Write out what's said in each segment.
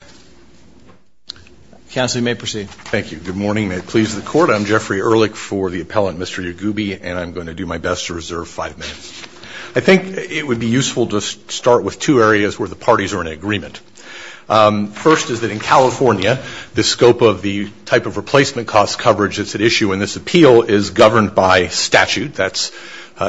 I'm Jeffrey Ehrlich for the appellant Mr. Yaghoubi, and I'm going to do my best to reserve five minutes. I think it would be useful to start with two areas where the parties are in agreement. First is that in California the scope of the type of replacement cost coverage that's at issue in this appeal is governed by statute. That's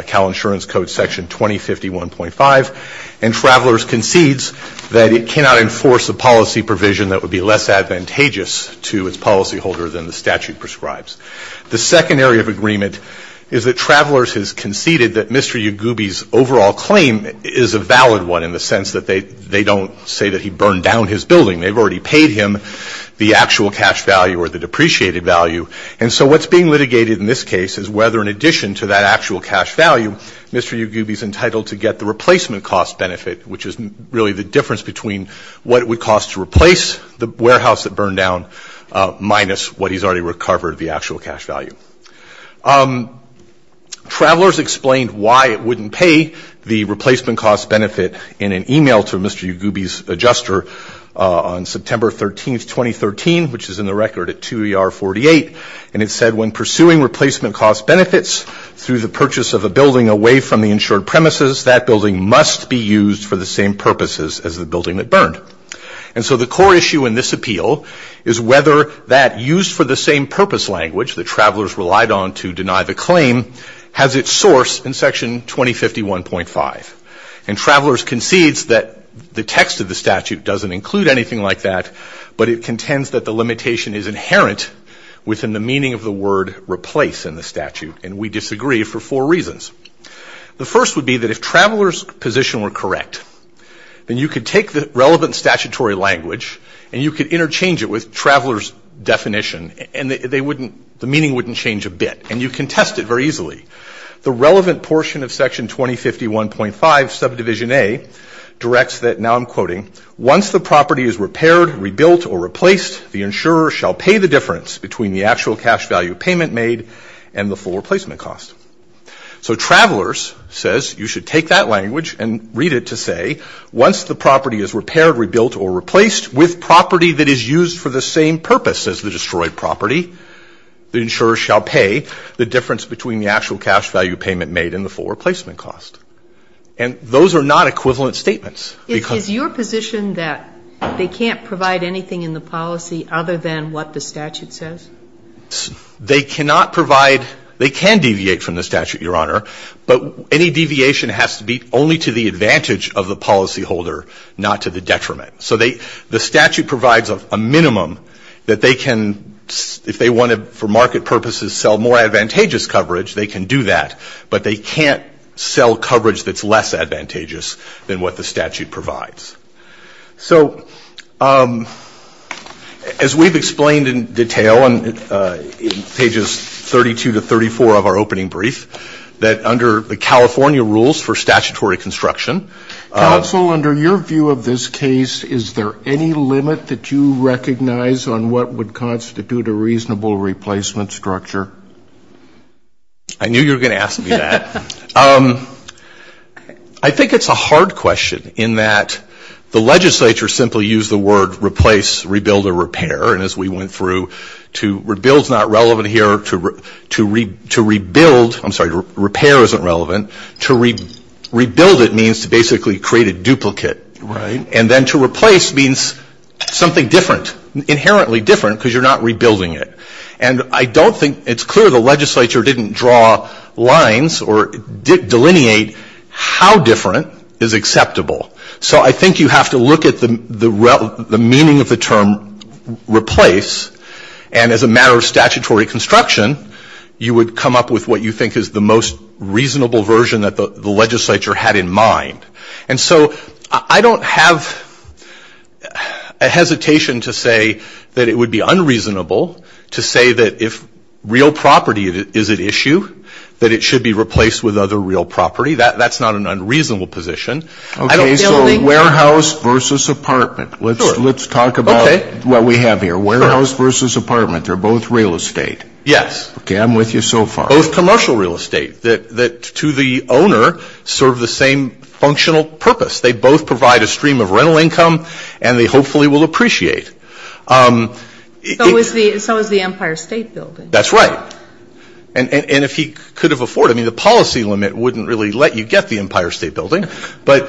Cal Insurance Code Section 2051.5. And Travelers concedes that it cannot enforce a policy provision that would be less advantageous to its policyholder than the statute prescribes. The second area of agreement is that Travelers has conceded that Mr. Yaghoubi's overall claim is a valid one, in the sense that they don't say that he burned down his building. They've already paid him the actual cash value or the depreciated value. And so what's being litigated in this case is whether, in addition to that actual cash value, Mr. Yaghoubi's entitled to get the replacement cost benefit, which is really the difference between what it would cost to replace the warehouse that burned down minus what he's already recovered, the actual cash value. Travelers explained why it wouldn't pay the replacement cost benefit in an email to Mr. Yaghoubi's adjuster on September 13, 2013, which is in the record at 2ER48, and it said when pursuing replacement cost benefits through the purchase of a building away from the insured premises, that building must be used for the same purposes as the building that burned. And so the core issue in this appeal is whether that used-for-the-same-purpose language that Travelers relied on to deny the claim has its source in Section 2051.5. And Travelers concedes that the text of the statute doesn't include anything like that, but it contends that the limitation is inherent within the meaning of the word replace in the statute, and we disagree for four reasons. The first would be that if Travelers' position were correct, then you could take the relevant statutory language and you could interchange it with Travelers' definition, and the meaning wouldn't change a bit, and you can test it very easily. The relevant portion of Section 2051.5, Subdivision A, directs that, now I'm quoting, once the property is repaired, rebuilt, or replaced, the insurer shall pay the difference between the actual cash value payment made and the full replacement cost. So Travelers says you should take that language and read it to say once the property is repaired, rebuilt, or replaced, with property that is used for the same purpose as the destroyed property, the insurer shall pay the difference between the actual cash value payment made and the full replacement cost. And those are not equivalent statements. Because your position that they can't provide anything in the policy other than what the statute says? They cannot provide, they can deviate from the statute, Your Honor, but any deviation has to be only to the advantage of the policyholder, not to the detriment. So the statute provides a minimum that they can, if they want to, for market purposes, sell more advantageous coverage, they can do that, but they can't sell coverage that's less advantageous than what the statute provides. So as we've explained in detail in pages 32 to 34 of our opening brief, that under the California rules, for statutory construction. Counsel, under your view of this case, is there any limit that you recognize on what would constitute a reasonable replacement structure? I knew you were going to ask me that. I think it's a hard question in that the legislature simply used the word replace, rebuild, or repair. And as we went through, to rebuild is not relevant here, to rebuild, I'm sorry, repair isn't relevant. To rebuild it means to basically create a duplicate. Right. And then to replace means something different, inherently different, because you're not rebuilding it. And I don't think, it's clear the legislature didn't draw lines or delineate how different is acceptable. So I think you have to look at the meaning of the term replace, and as a matter of statutory construction, you would come up with what you think is the most reasonable version that the legislature had in mind. And so I don't have a hesitation to say that it would be unreasonable to say that if real property is at issue, that it should be replaced with other real property. That's not an unreasonable position. Okay, so warehouse versus apartment. Sure. Let's talk about what we have here, warehouse versus apartment. They're both real estate. Yes. Okay, I'm with you so far. Both commercial real estate that to the owner serve the same functional purpose. They both provide a stream of rental income, and they hopefully will appreciate. So is the Empire State Building. That's right. And if he could have afforded, I mean, the policy limit wouldn't really let you get the Empire State Building. But,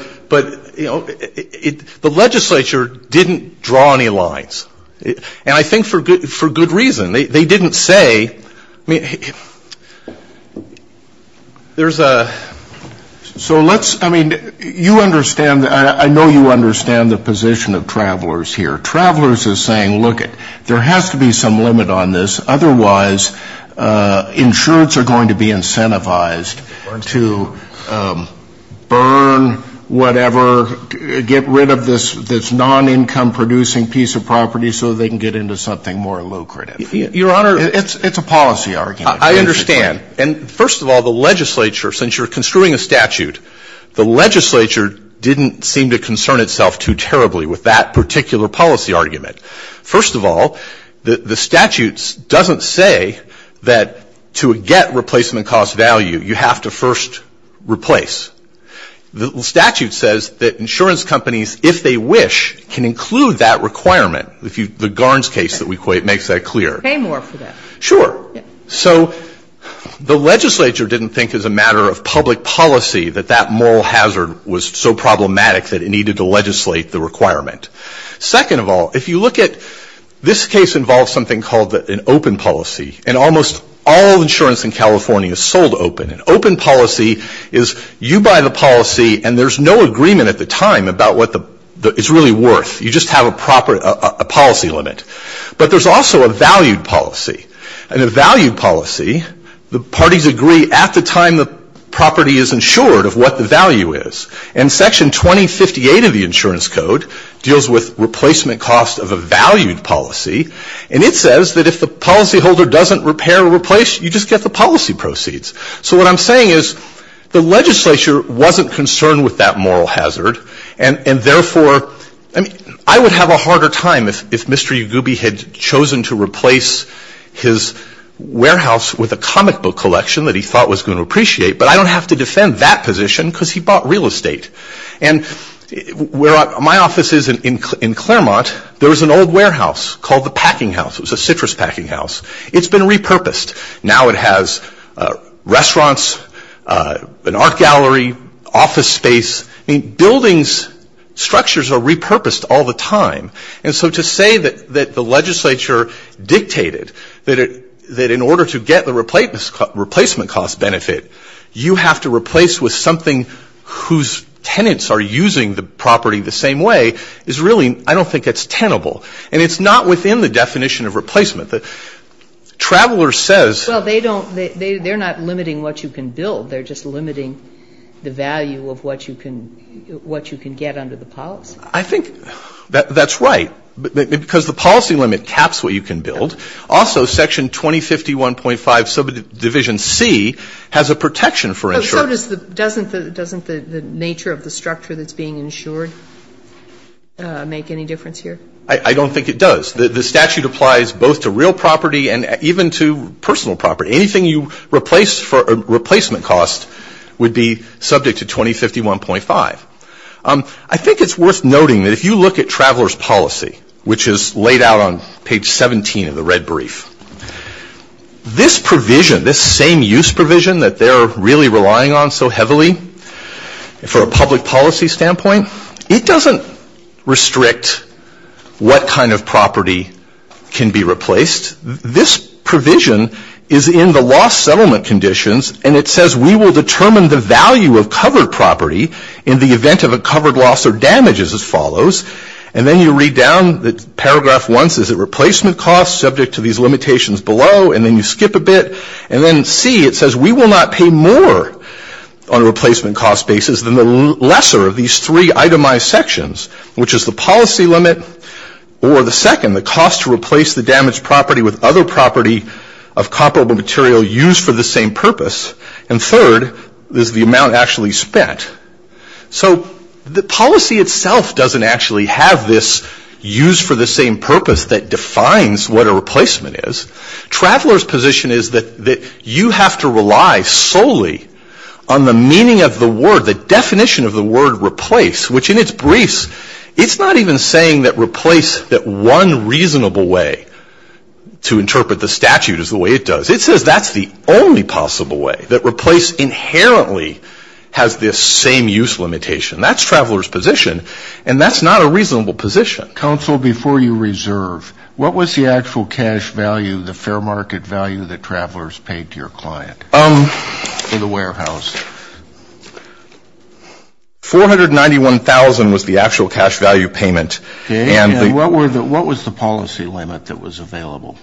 you know, the legislature didn't draw any lines. And I think for good reason. They didn't say, I mean, there's a. So let's, I mean, you understand, I know you understand the position of travelers here. Travelers are saying, look, there has to be some limit on this, otherwise insurance are going to be incentivized to burn whatever, get rid of this non-income producing piece of property so they can get into something more lucrative. Your Honor, it's a policy argument. I understand. And first of all, the legislature, since you're construing a statute, the legislature didn't seem to concern itself too terribly with that particular policy argument. First of all, the statute doesn't say that to get replacement cost value, you have to first replace. The statute says that insurance companies, if they wish, can include that requirement. The Garns case that we equate makes that clear. Pay more for that. Sure. So the legislature didn't think as a matter of public policy that that moral hazard was so problematic that it needed to legislate the requirement. Second of all, if you look at, this case involves something called an open policy. And almost all insurance in California is sold open. An open policy is you buy the policy and there's no agreement at the time about what it's really worth. You just have a policy limit. But there's also a valued policy. And a valued policy, the parties agree at the time the property is insured of what the value is. And Section 2058 of the Insurance Code deals with replacement cost of a valued policy. And it says that if the policyholder doesn't repair or replace, you just get the policy proceeds. So what I'm saying is the legislature wasn't concerned with that moral hazard. And, therefore, I would have a harder time if Mr. Yagoubi had chosen to replace his warehouse with a comic book collection that he thought was going to appreciate. But I don't have to defend that position because he bought real estate. And where my office is in Claremont, there was an old warehouse called the packing house. It was a citrus packing house. It's been repurposed. Now it has restaurants, an art gallery, office space. Buildings, structures are repurposed all the time. And so to say that the legislature dictated that in order to get the replacement cost benefit, you have to replace with something whose tenants are using the property the same way is really, I don't think it's tenable. And it's not within the definition of replacement. Travelers says they're not limiting what you can build. They're just limiting the value of what you can get under the policy. I think that's right. Because the policy limit caps what you can build. Also, section 2051.5 subdivision C has a protection for insurance. Doesn't the nature of the structure that's being insured make any difference here? I don't think it does. The statute applies both to real property and even to personal property. Anything you replace for a replacement cost would be subject to 2051.5. I think it's worth noting that if you look at traveler's policy, which is laid out on page 17 of the red brief, this provision, this same use provision that they're really relying on so heavily for a public policy standpoint, it doesn't restrict what kind of property can be replaced. This provision is in the lost settlement conditions. And it says we will determine the value of covered property in the event of a covered loss or damage as follows. And then you read down the paragraph once. Is it replacement cost subject to these limitations below? And then you skip a bit. And then C, it says we will not pay more on a replacement cost basis than the lesser of these three itemized sections, which is the policy limit or the second, the cost to replace the damaged property with other property of comparable material used for the same purpose. And third is the amount actually spent. So the policy itself doesn't actually have this use for the same purpose that defines what a replacement is. Traveler's position is that you have to rely solely on the meaning of the word, the definition of the word replace, which in its briefs it's not even saying that replace, that one reasonable way to interpret the statute is the way it does. It says that's the only possible way, that replace inherently has this same use limitation. That's traveler's position. And that's not a reasonable position. Counsel, before you reserve, what was the actual cash value, the fair market value that travelers paid to your client for the warehouse? $491,000 was the actual cash value payment. And what was the policy limit that was available?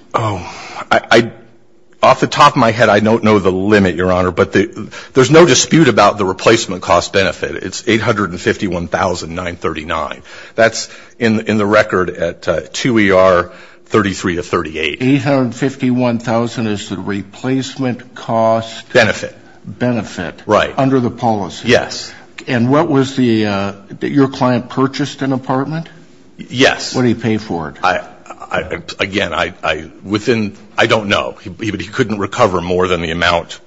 Off the top of my head, I don't know the limit, Your Honor, but there's no dispute about the replacement cost benefit. It's $851,939. That's in the record at 2 ER 33 to 38. $851,000 is the replacement cost benefit. Benefit. Benefit. Right. Under the policy. Yes. And what was the, your client purchased an apartment? Yes. What did he pay for it? Again, I, within, I don't know. He couldn't recover more than the amount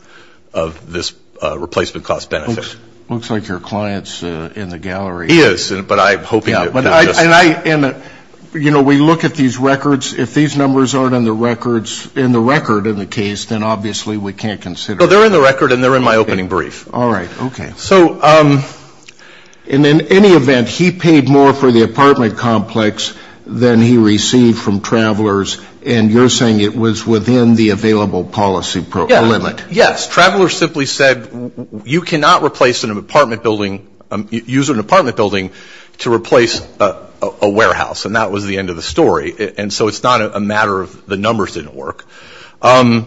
of this replacement cost benefit. Looks like your client's in the gallery. He is. But I'm hoping. And I, you know, we look at these records. If these numbers aren't in the records, in the record in the case, then obviously we can't consider it. They're in the record and they're in my opening brief. All right. Okay. So in any event, he paid more for the apartment complex than he received from travelers. And you're saying it was within the available policy limit. Yes. Travelers simply said you cannot replace an apartment building, use an apartment building to replace a warehouse. And that was the end of the story. And so it's not a matter of the numbers didn't work. I'm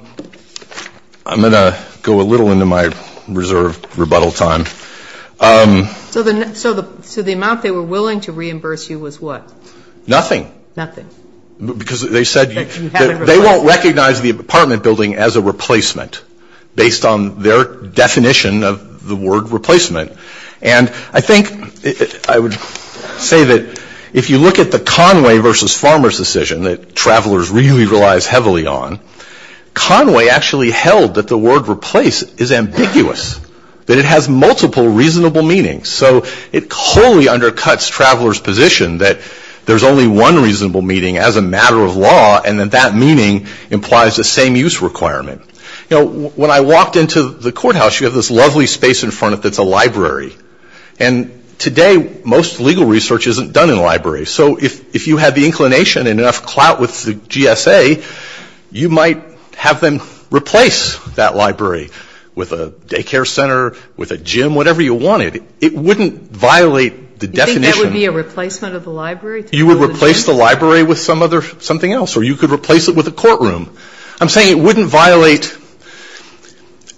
going to go a little into my reserved rebuttal time. So the amount they were willing to reimburse you was what? Nothing. Nothing. Because they said they won't recognize the apartment building as a replacement based on their definition of the word replacement. And I think I would say that if you look at the Conway versus Farmers decision that travelers really relies heavily on, Conway actually held that the word replace is ambiguous, that it has multiple reasonable meanings. So it wholly undercuts travelers' position that there's only one reasonable meaning as a matter of law and that that meaning implies the same use requirement. You know, when I walked into the courthouse, you have this lovely space in front of it that's a library. And today, most legal research isn't done in libraries. So if you had the inclination and enough clout with the GSA, you might have them replace that library with a daycare center, with a gym, whatever you wanted. It wouldn't violate the definition. You think that would be a replacement of the library? You would replace the library with something else, or you could replace it with a courtroom. I'm saying it wouldn't violate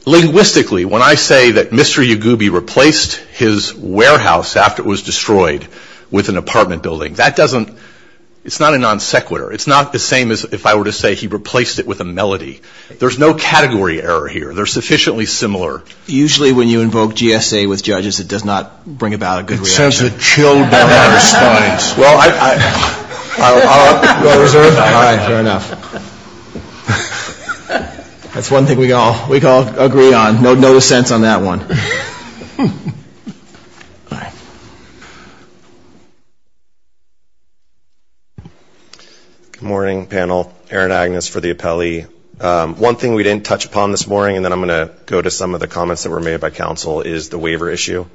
linguistically when I say that Mr. Yagubi replaced his warehouse after it was destroyed with an apartment building. That doesn't – it's not a non sequitur. It's not the same as if I were to say he replaced it with a melody. There's no category error here. They're sufficiently similar. Usually when you invoke GSA with judges, it does not bring about a good reaction. It sends a chill down our spines. Well, I'll reserve that. All right, fair enough. That's one thing we can all agree on. No dissents on that one. All right. Good morning, panel. Aaron Agnes for the appellee. One thing we didn't touch upon this morning, and then I'm going to go to some of the comments that were made by counsel, is the waiver issue.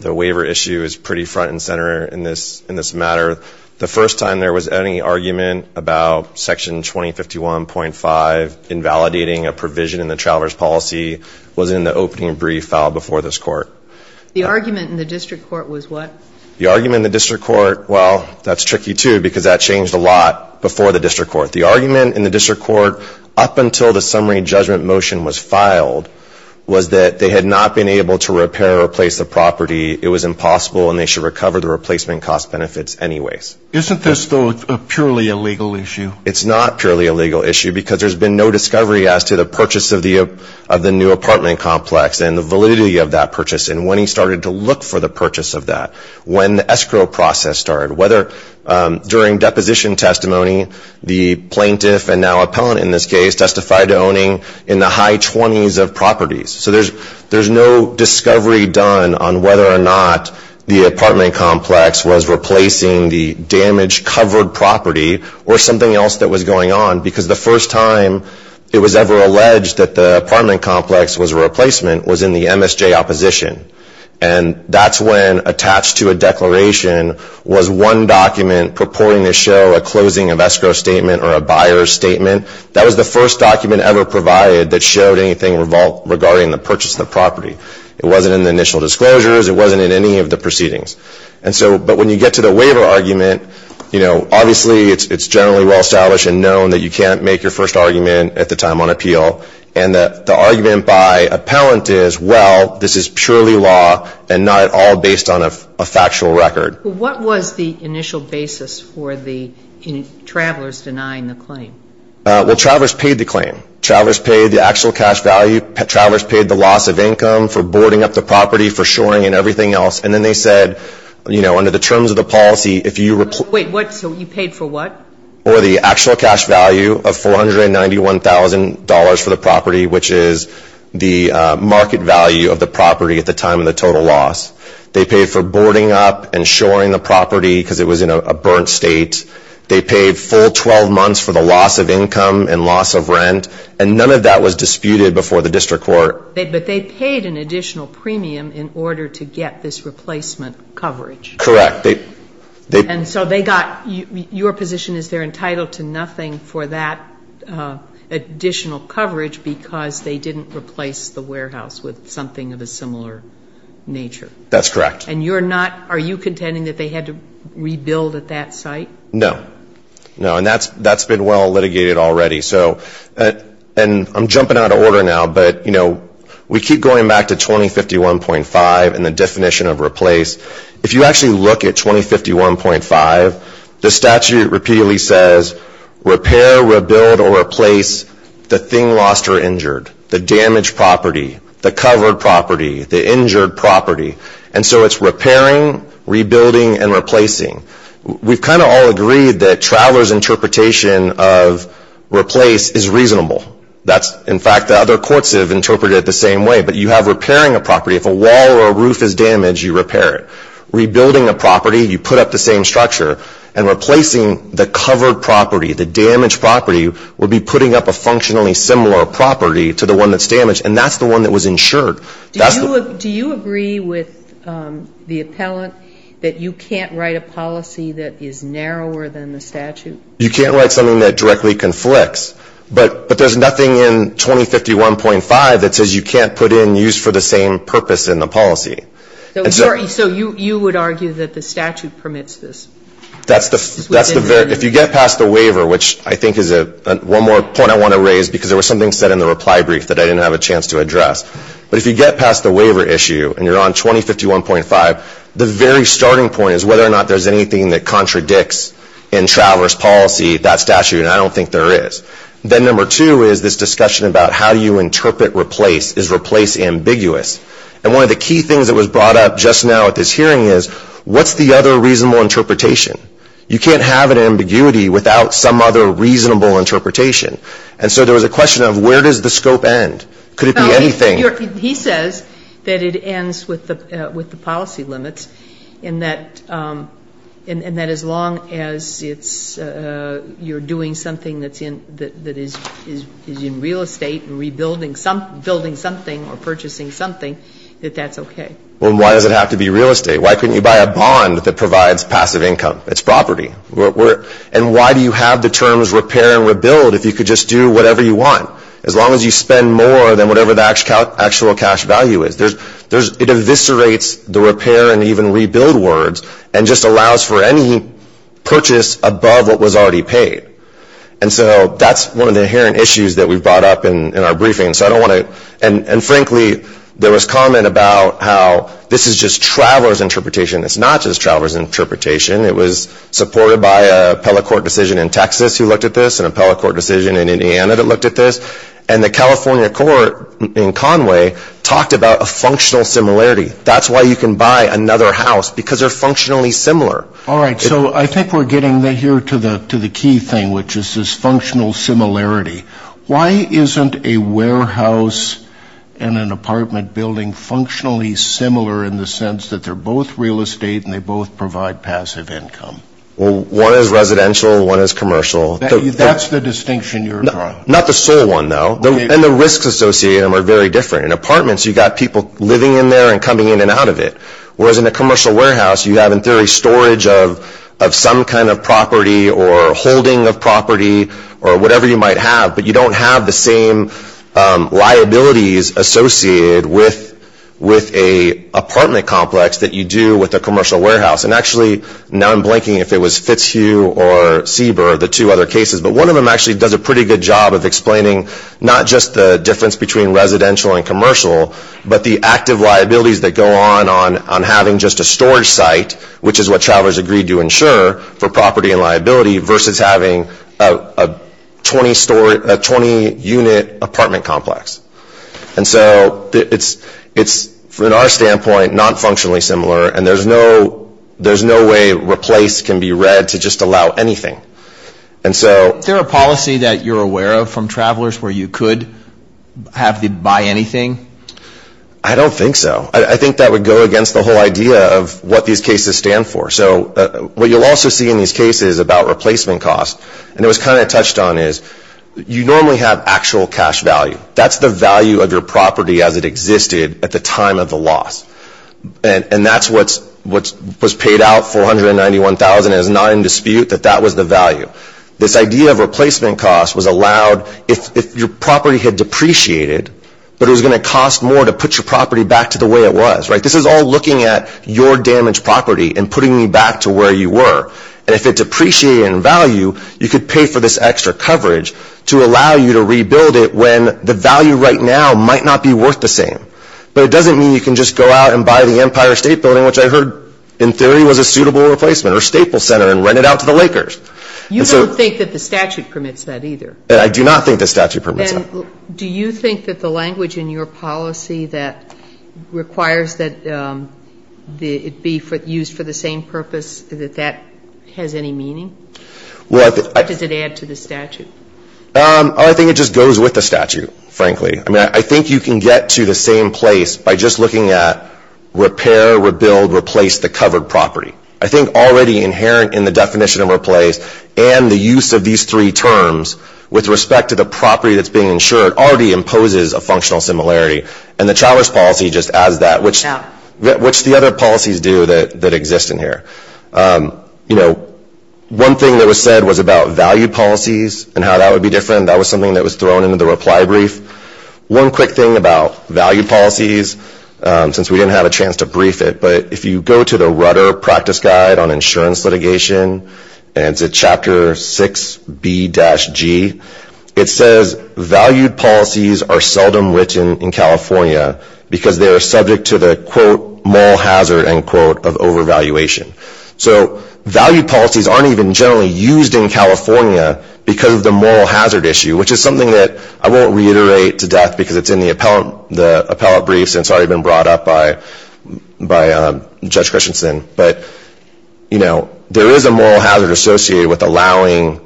The waiver issue is pretty front and center in this matter. The first time there was any argument about Section 2051.5 invalidating a provision in the traveler's policy was in the opening brief filed before this court. The argument in the district court was what? The argument in the district court, well, that's tricky too because that changed a lot before the district court. The argument in the district court up until the summary judgment motion was filed was that they had not been able to repair or replace the property. It was impossible, and they should recover the replacement cost benefits anyways. Isn't this still a purely illegal issue? It's not purely a legal issue because there's been no discovery as to the purchase of the new apartment complex and the validity of that purchase and when he started to look for the purchase of that, when the escrow process started, whether during deposition testimony, the plaintiff and now appellant in this case testified to owning in the high 20s of properties. So there's no discovery done on whether or not the apartment complex was replacing the damaged covered property or something else that was going on because the first time it was ever alleged that the apartment complex was a replacement was in the MSJ opposition. And that's when attached to a declaration was one document purporting to show a closing of escrow statement or a buyer's statement. That was the first document ever provided that showed anything regarding the purchase of the property. It wasn't in the initial disclosures. It wasn't in any of the proceedings. But when you get to the waiver argument, obviously it's generally well established and known that you can't make your first argument at the time on appeal and that the argument by appellant is, well, this is purely law and not at all based on a factual record. What was the initial basis for the travelers denying the claim? Well, travelers paid the claim. Travelers paid the actual cash value. Travelers paid the loss of income for boarding up the property, for shoring and everything else. And then they said, you know, under the terms of the policy, if you... Wait, what? So you paid for what? For the actual cash value of $491,000 for the property, which is the market value of the property at the time of the total loss. They paid for boarding up and shoring the property because it was in a burnt state. They paid full 12 months for the loss of income and loss of rent. And none of that was disputed before the district court. But they paid an additional premium in order to get this replacement coverage. Correct. And so they got... Your position is they're entitled to nothing for that additional coverage because they didn't replace the warehouse with something of a similar nature. That's correct. And you're not... Are you contending that they had to rebuild at that site? No. No, and that's been well litigated already. And I'm jumping out of order now, but, you know, we keep going back to 2051.5 and the definition of replace. If you actually look at 2051.5, the statute repeatedly says, repair, rebuild, or replace the thing lost or injured, the damaged property, the covered property, the injured property. And so it's repairing, rebuilding, and replacing. We've kind of all agreed that Traveler's interpretation of replace is reasonable. In fact, other courts have interpreted it the same way. But you have repairing a property. If a wall or a roof is damaged, you repair it. Rebuilding a property, you put up the same structure. And replacing the covered property, the damaged property, would be putting up a functionally similar property to the one that's damaged, and that's the one that was insured. Do you agree with the appellant that you can't write a policy that is narrower than the statute? You can't write something that directly conflicts. But there's nothing in 2051.5 that says you can't put in use for the same purpose in the policy. So you would argue that the statute permits this? If you get past the waiver, which I think is one more point I want to raise, because there was something said in the reply brief that I didn't have a chance to address. But if you get past the waiver issue and you're on 2051.5, the very starting point is whether or not there's anything that contradicts in traverse policy that statute, and I don't think there is. Then number two is this discussion about how do you interpret replace? Is replace ambiguous? And one of the key things that was brought up just now at this hearing is, what's the other reasonable interpretation? You can't have an ambiguity without some other reasonable interpretation. And so there was a question of where does the scope end? Could it be anything? He says that it ends with the policy limits and that as long as it's you're doing something that's in, that is in real estate and rebuilding something or purchasing something, that that's okay. Well, why does it have to be real estate? Why couldn't you buy a bond that provides passive income? It's property. And why do you have the terms repair and rebuild if you could just do whatever you want? As long as you spend more than whatever the actual cash value is. It eviscerates the repair and even rebuild words and just allows for any purchase above what was already paid. And so that's one of the inherent issues that we've brought up in our briefing. And frankly, there was comment about how this is just traveler's interpretation. It's not just traveler's interpretation. It was supported by an appellate court decision in Texas who looked at this and appellate court decision in Indiana that looked at this. And the California court in Conway talked about a functional similarity. That's why you can buy another house because they're functionally similar. All right. So I think we're getting here to the key thing, which is this functional similarity. Why isn't a warehouse and an apartment building functionally similar in the sense that they're both real estate and they both provide passive income? Well, one is residential and one is commercial. That's the distinction you're drawing. Not the sole one, though. And the risks associated with them are very different. In apartments, you've got people living in there and coming in and out of it, whereas in a commercial warehouse, you have, in theory, storage of some kind of property or holding of property or whatever you might have, but you don't have the same liabilities associated with an apartment complex that you do with a commercial warehouse. And actually, now I'm blanking if it was Fitzhugh or Sieber, the two other cases, but one of them actually does a pretty good job of explaining not just the difference between residential and commercial, but the active liabilities that go on on having just a storage site, which is what travelers agree to insure for property and liability, versus having a 20-unit apartment complex. And so it's, from our standpoint, not functionally similar and there's no way replace can be read to just allow anything. Is there a policy that you're aware of from travelers where you could have them buy anything? I don't think so. I think that would go against the whole idea of what these cases stand for. So what you'll also see in these cases about replacement costs, and it was the value of your property as it existed at the time of the loss. And that's what was paid out $491,000. It's not in dispute that that was the value. This idea of replacement costs was allowed if your property had depreciated, but it was going to cost more to put your property back to the way it was. This is all looking at your damaged property and putting you back to where you were. And if it depreciated in value, you could pay for this extra coverage to allow you to rebuild it when the value right now might not be worth the same. But it doesn't mean you can just go out and buy the Empire State Building, which I heard in theory was a suitable replacement, or Staples Center, and rent it out to the Lakers. You don't think that the statute permits that either? I do not think the statute permits that. And do you think that the language in your policy that requires that it be used for the same purpose, that that has any meaning? What does it add to the statute? I think it just goes with the statute, frankly. I think you can get to the same place by just looking at repair, rebuild, replace the covered property. I think already inherent in the definition of replace and the use of these three terms with respect to the property that's being insured already imposes a functional similarity. And the Chalmers policy just adds that, which the other policies do that exist in here. One thing that was said was about value policies and how that would be different. That was something that was thrown into the reply brief. One quick thing about value policies, since we didn't have a chance to brief it, but if you go to the Rudder Practice Guide on Insurance Litigation, and it's in Chapter 6B-G, it says, valued policies are seldom written in California because they are subject to the quote, moral hazard, end quote, of overvaluation. So value policies aren't even generally used in California because of the moral hazard issue, which is something that I won't reiterate to death because it's in the appellate brief since it's already been brought up by Judge Christensen. But, you know, there is a moral hazard associated with allowing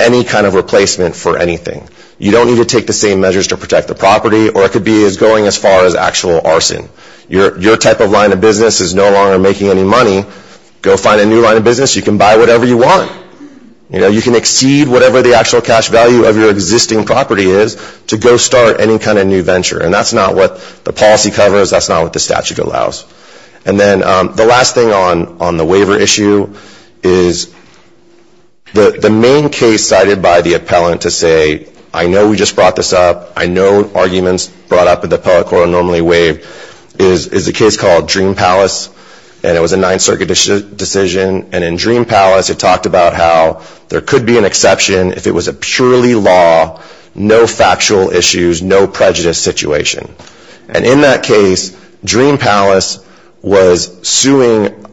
any kind of replacement for anything. You don't need to take the same measures to protect the property, or it could be going as far as actual arson. Your type of line of business is no longer making any money. Go find a new line of business. You can buy whatever you want. You know, you can exceed whatever the actual cash value of your existing property is to go start any kind of new venture. And that's not what the policy covers. That's not what the statute allows. And then the last thing on the waiver issue is the main case cited by the appellant to say, I know we just brought this up. I know arguments brought up in the appellate court are normally waived, is a case called Dream Palace. And it was a Ninth Circuit decision. And in Dream Palace it talked about how there could be an exception if it was a purely law, no factual issues, no prejudice situation. And in that case, Dream Palace was suing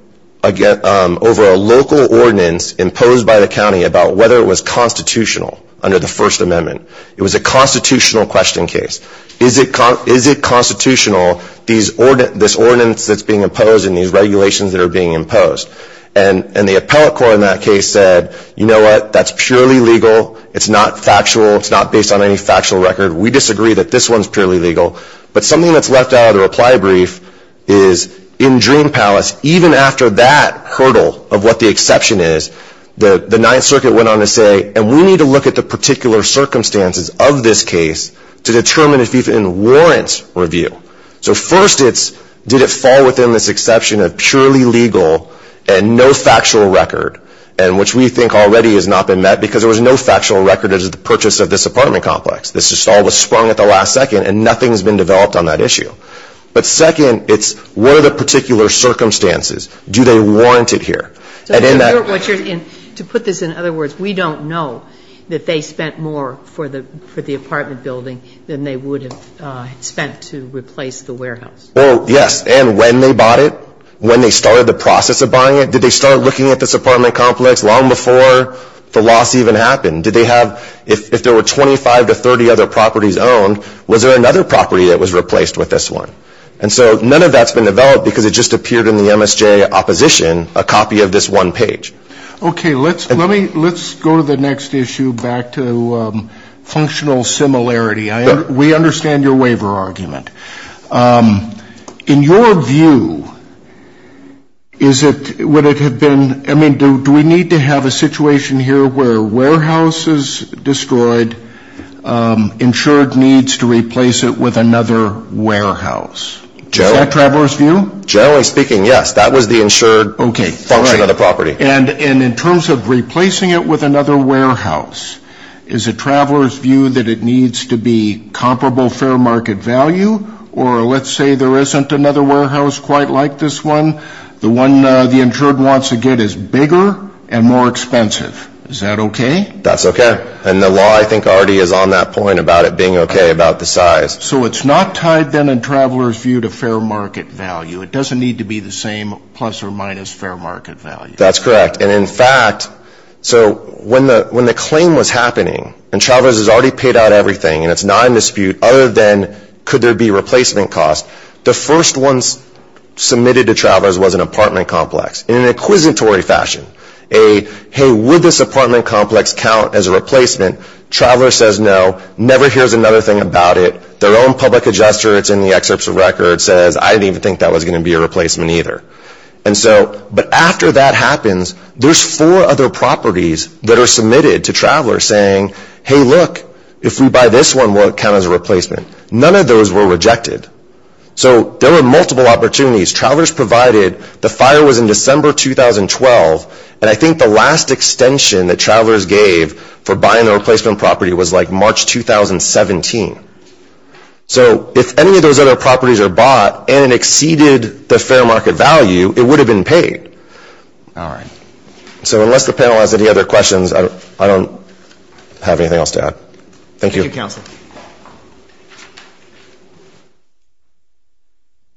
over a local ordinance imposed by the county about whether it was constitutional under the First Amendment. It was a constitutional question case. Is it constitutional, this ordinance that's being imposed and these regulations that are being imposed? And the appellate court in that case said, you know what, that's purely legal. It's not factual. It's not based on any factual record. We disagree that this one's purely legal. But something that's left out of the reply brief is in Dream Palace, even after that hurdle of what the exception is, the Ninth Circuit went on to say, and we need to look at the particular circumstances of this case to determine if it even warrants review. So first it's did it fall within this exception of purely legal and no factual record, and which we think already has not been met because there was no factual record as to the purchase of this apartment complex. This just all was sprung at the last second and nothing's been developed on that issue. But second, it's what are the particular circumstances? Do they warrant it here? And to put this in other words, we don't know that they spent more for the apartment building than they would have spent to replace the warehouse. Well, yes. And when they bought it, when they started the process of buying it, did they start looking at this apartment complex long before the loss even happened? Did they have, if there were 25 to 30 other properties owned, was there another property that was replaced with this one? And so none of that's been developed because it just appeared in the MSJ opposition a copy of this one page. Okay. Let's go to the next issue back to functional similarity. We understand your waiver argument. In your view, is it, would it have been, I mean, do we need to have a situation here where a warehouse is destroyed, insured needs to replace it with another warehouse? Is that Travers's view? Generally speaking, yes. That was the insured function of the property. And in terms of replacing it with another warehouse, is it Travers's view that it needs to be comparable fair market value? Or let's say there isn't another warehouse quite like this one. The one the insured wants to get is bigger and more expensive. Is that okay? That's okay. And the law, I think, already is on that point about it being okay about the size. So it's not tied then in Travers's view to fair market value. It doesn't need to be the same plus or minus fair market value. That's correct. And, in fact, so when the claim was happening, and Travers has already paid out everything and it's not in dispute other than could there be replacement costs, the first ones submitted to Travers was an apartment complex in an inquisitory fashion. A, hey, would this apartment complex count as a replacement? Travers says no, never hears another thing about it. Their own public adjuster, it's in the excerpts of record, says I didn't even think that was going to be a replacement either. And so, but after that happens, there's four other properties that are submitted to Travers saying, hey, look, if we buy this one, will it count as a replacement? None of those were rejected. So there were multiple opportunities. Travers provided the fire was in December 2012, and I think the last extension that Travers gave for buying the replacement property was like March 2017. So if any of those other properties are bought and it exceeded the fair market value, it would have been paid. All right. So unless the panel has any other questions, I don't have anything else to add. Thank you. Thank you, counsel.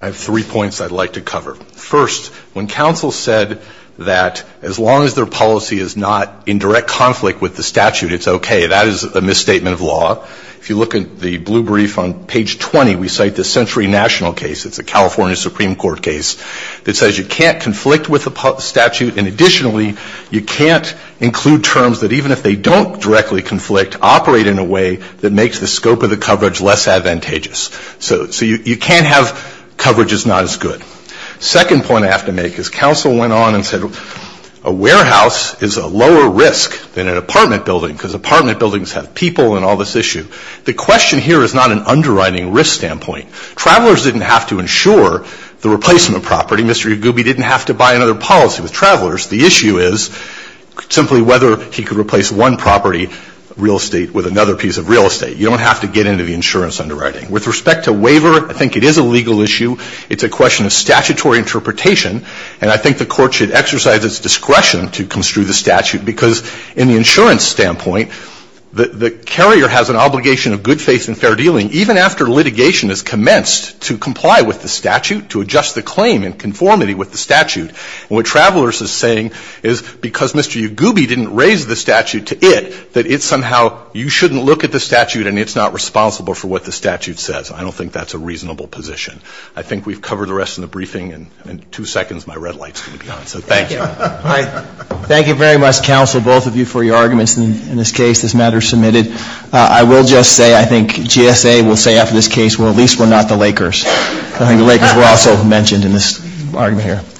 I have three points I'd like to cover. First, when counsel said that as long as their policy is not in direct conflict with the statute, it's okay, that is a misstatement of law. If you look at the blue brief on page 20, we cite the Century National case. It's a California Supreme Court case that says you can't conflict with the statute, and additionally, you can't include terms that even if they don't directly conflict, operate in a way that makes the scope of the coverage less advantageous. So you can't have coverage that's not as good. Second point I have to make is counsel went on and said a warehouse is a lower risk than an apartment building because apartment buildings have people and all of that. So I think the issue is whether the insurance underwriting is a legal issue. The question here is not an underwriting risk standpoint. Travelers didn't have to insure the replacement property. Mr. Yagoobi didn't have to buy another policy with travelers. The issue is simply whether he could replace one property, real estate, with another piece of real estate. You don't have to get into the insurance underwriting. With respect to waiver, I think it is a legal issue. It's a question of statutory interpretation. And I think the Court should exercise its discretion to construe the statute because in the insurance standpoint, the carrier has an obligation of good faith and fair dealing even after litigation has commenced to comply with the statute, to adjust the claim in conformity with the statute. And what Travelers is saying is because Mr. Yagoobi didn't raise the statute to it, that it's somehow you shouldn't look at the statute and it's not responsible for what the statute says. I don't think that's a reasonable position. I think we've covered the rest in the briefing. In two seconds, my red light's going to be on. So thank you. Thank you very much, counsel, both of you, for your arguments in this case, this matter submitted. I will just say I think GSA will say after this case, well, at least we're not the Lakers. I think the Lakers were also mentioned in this argument here.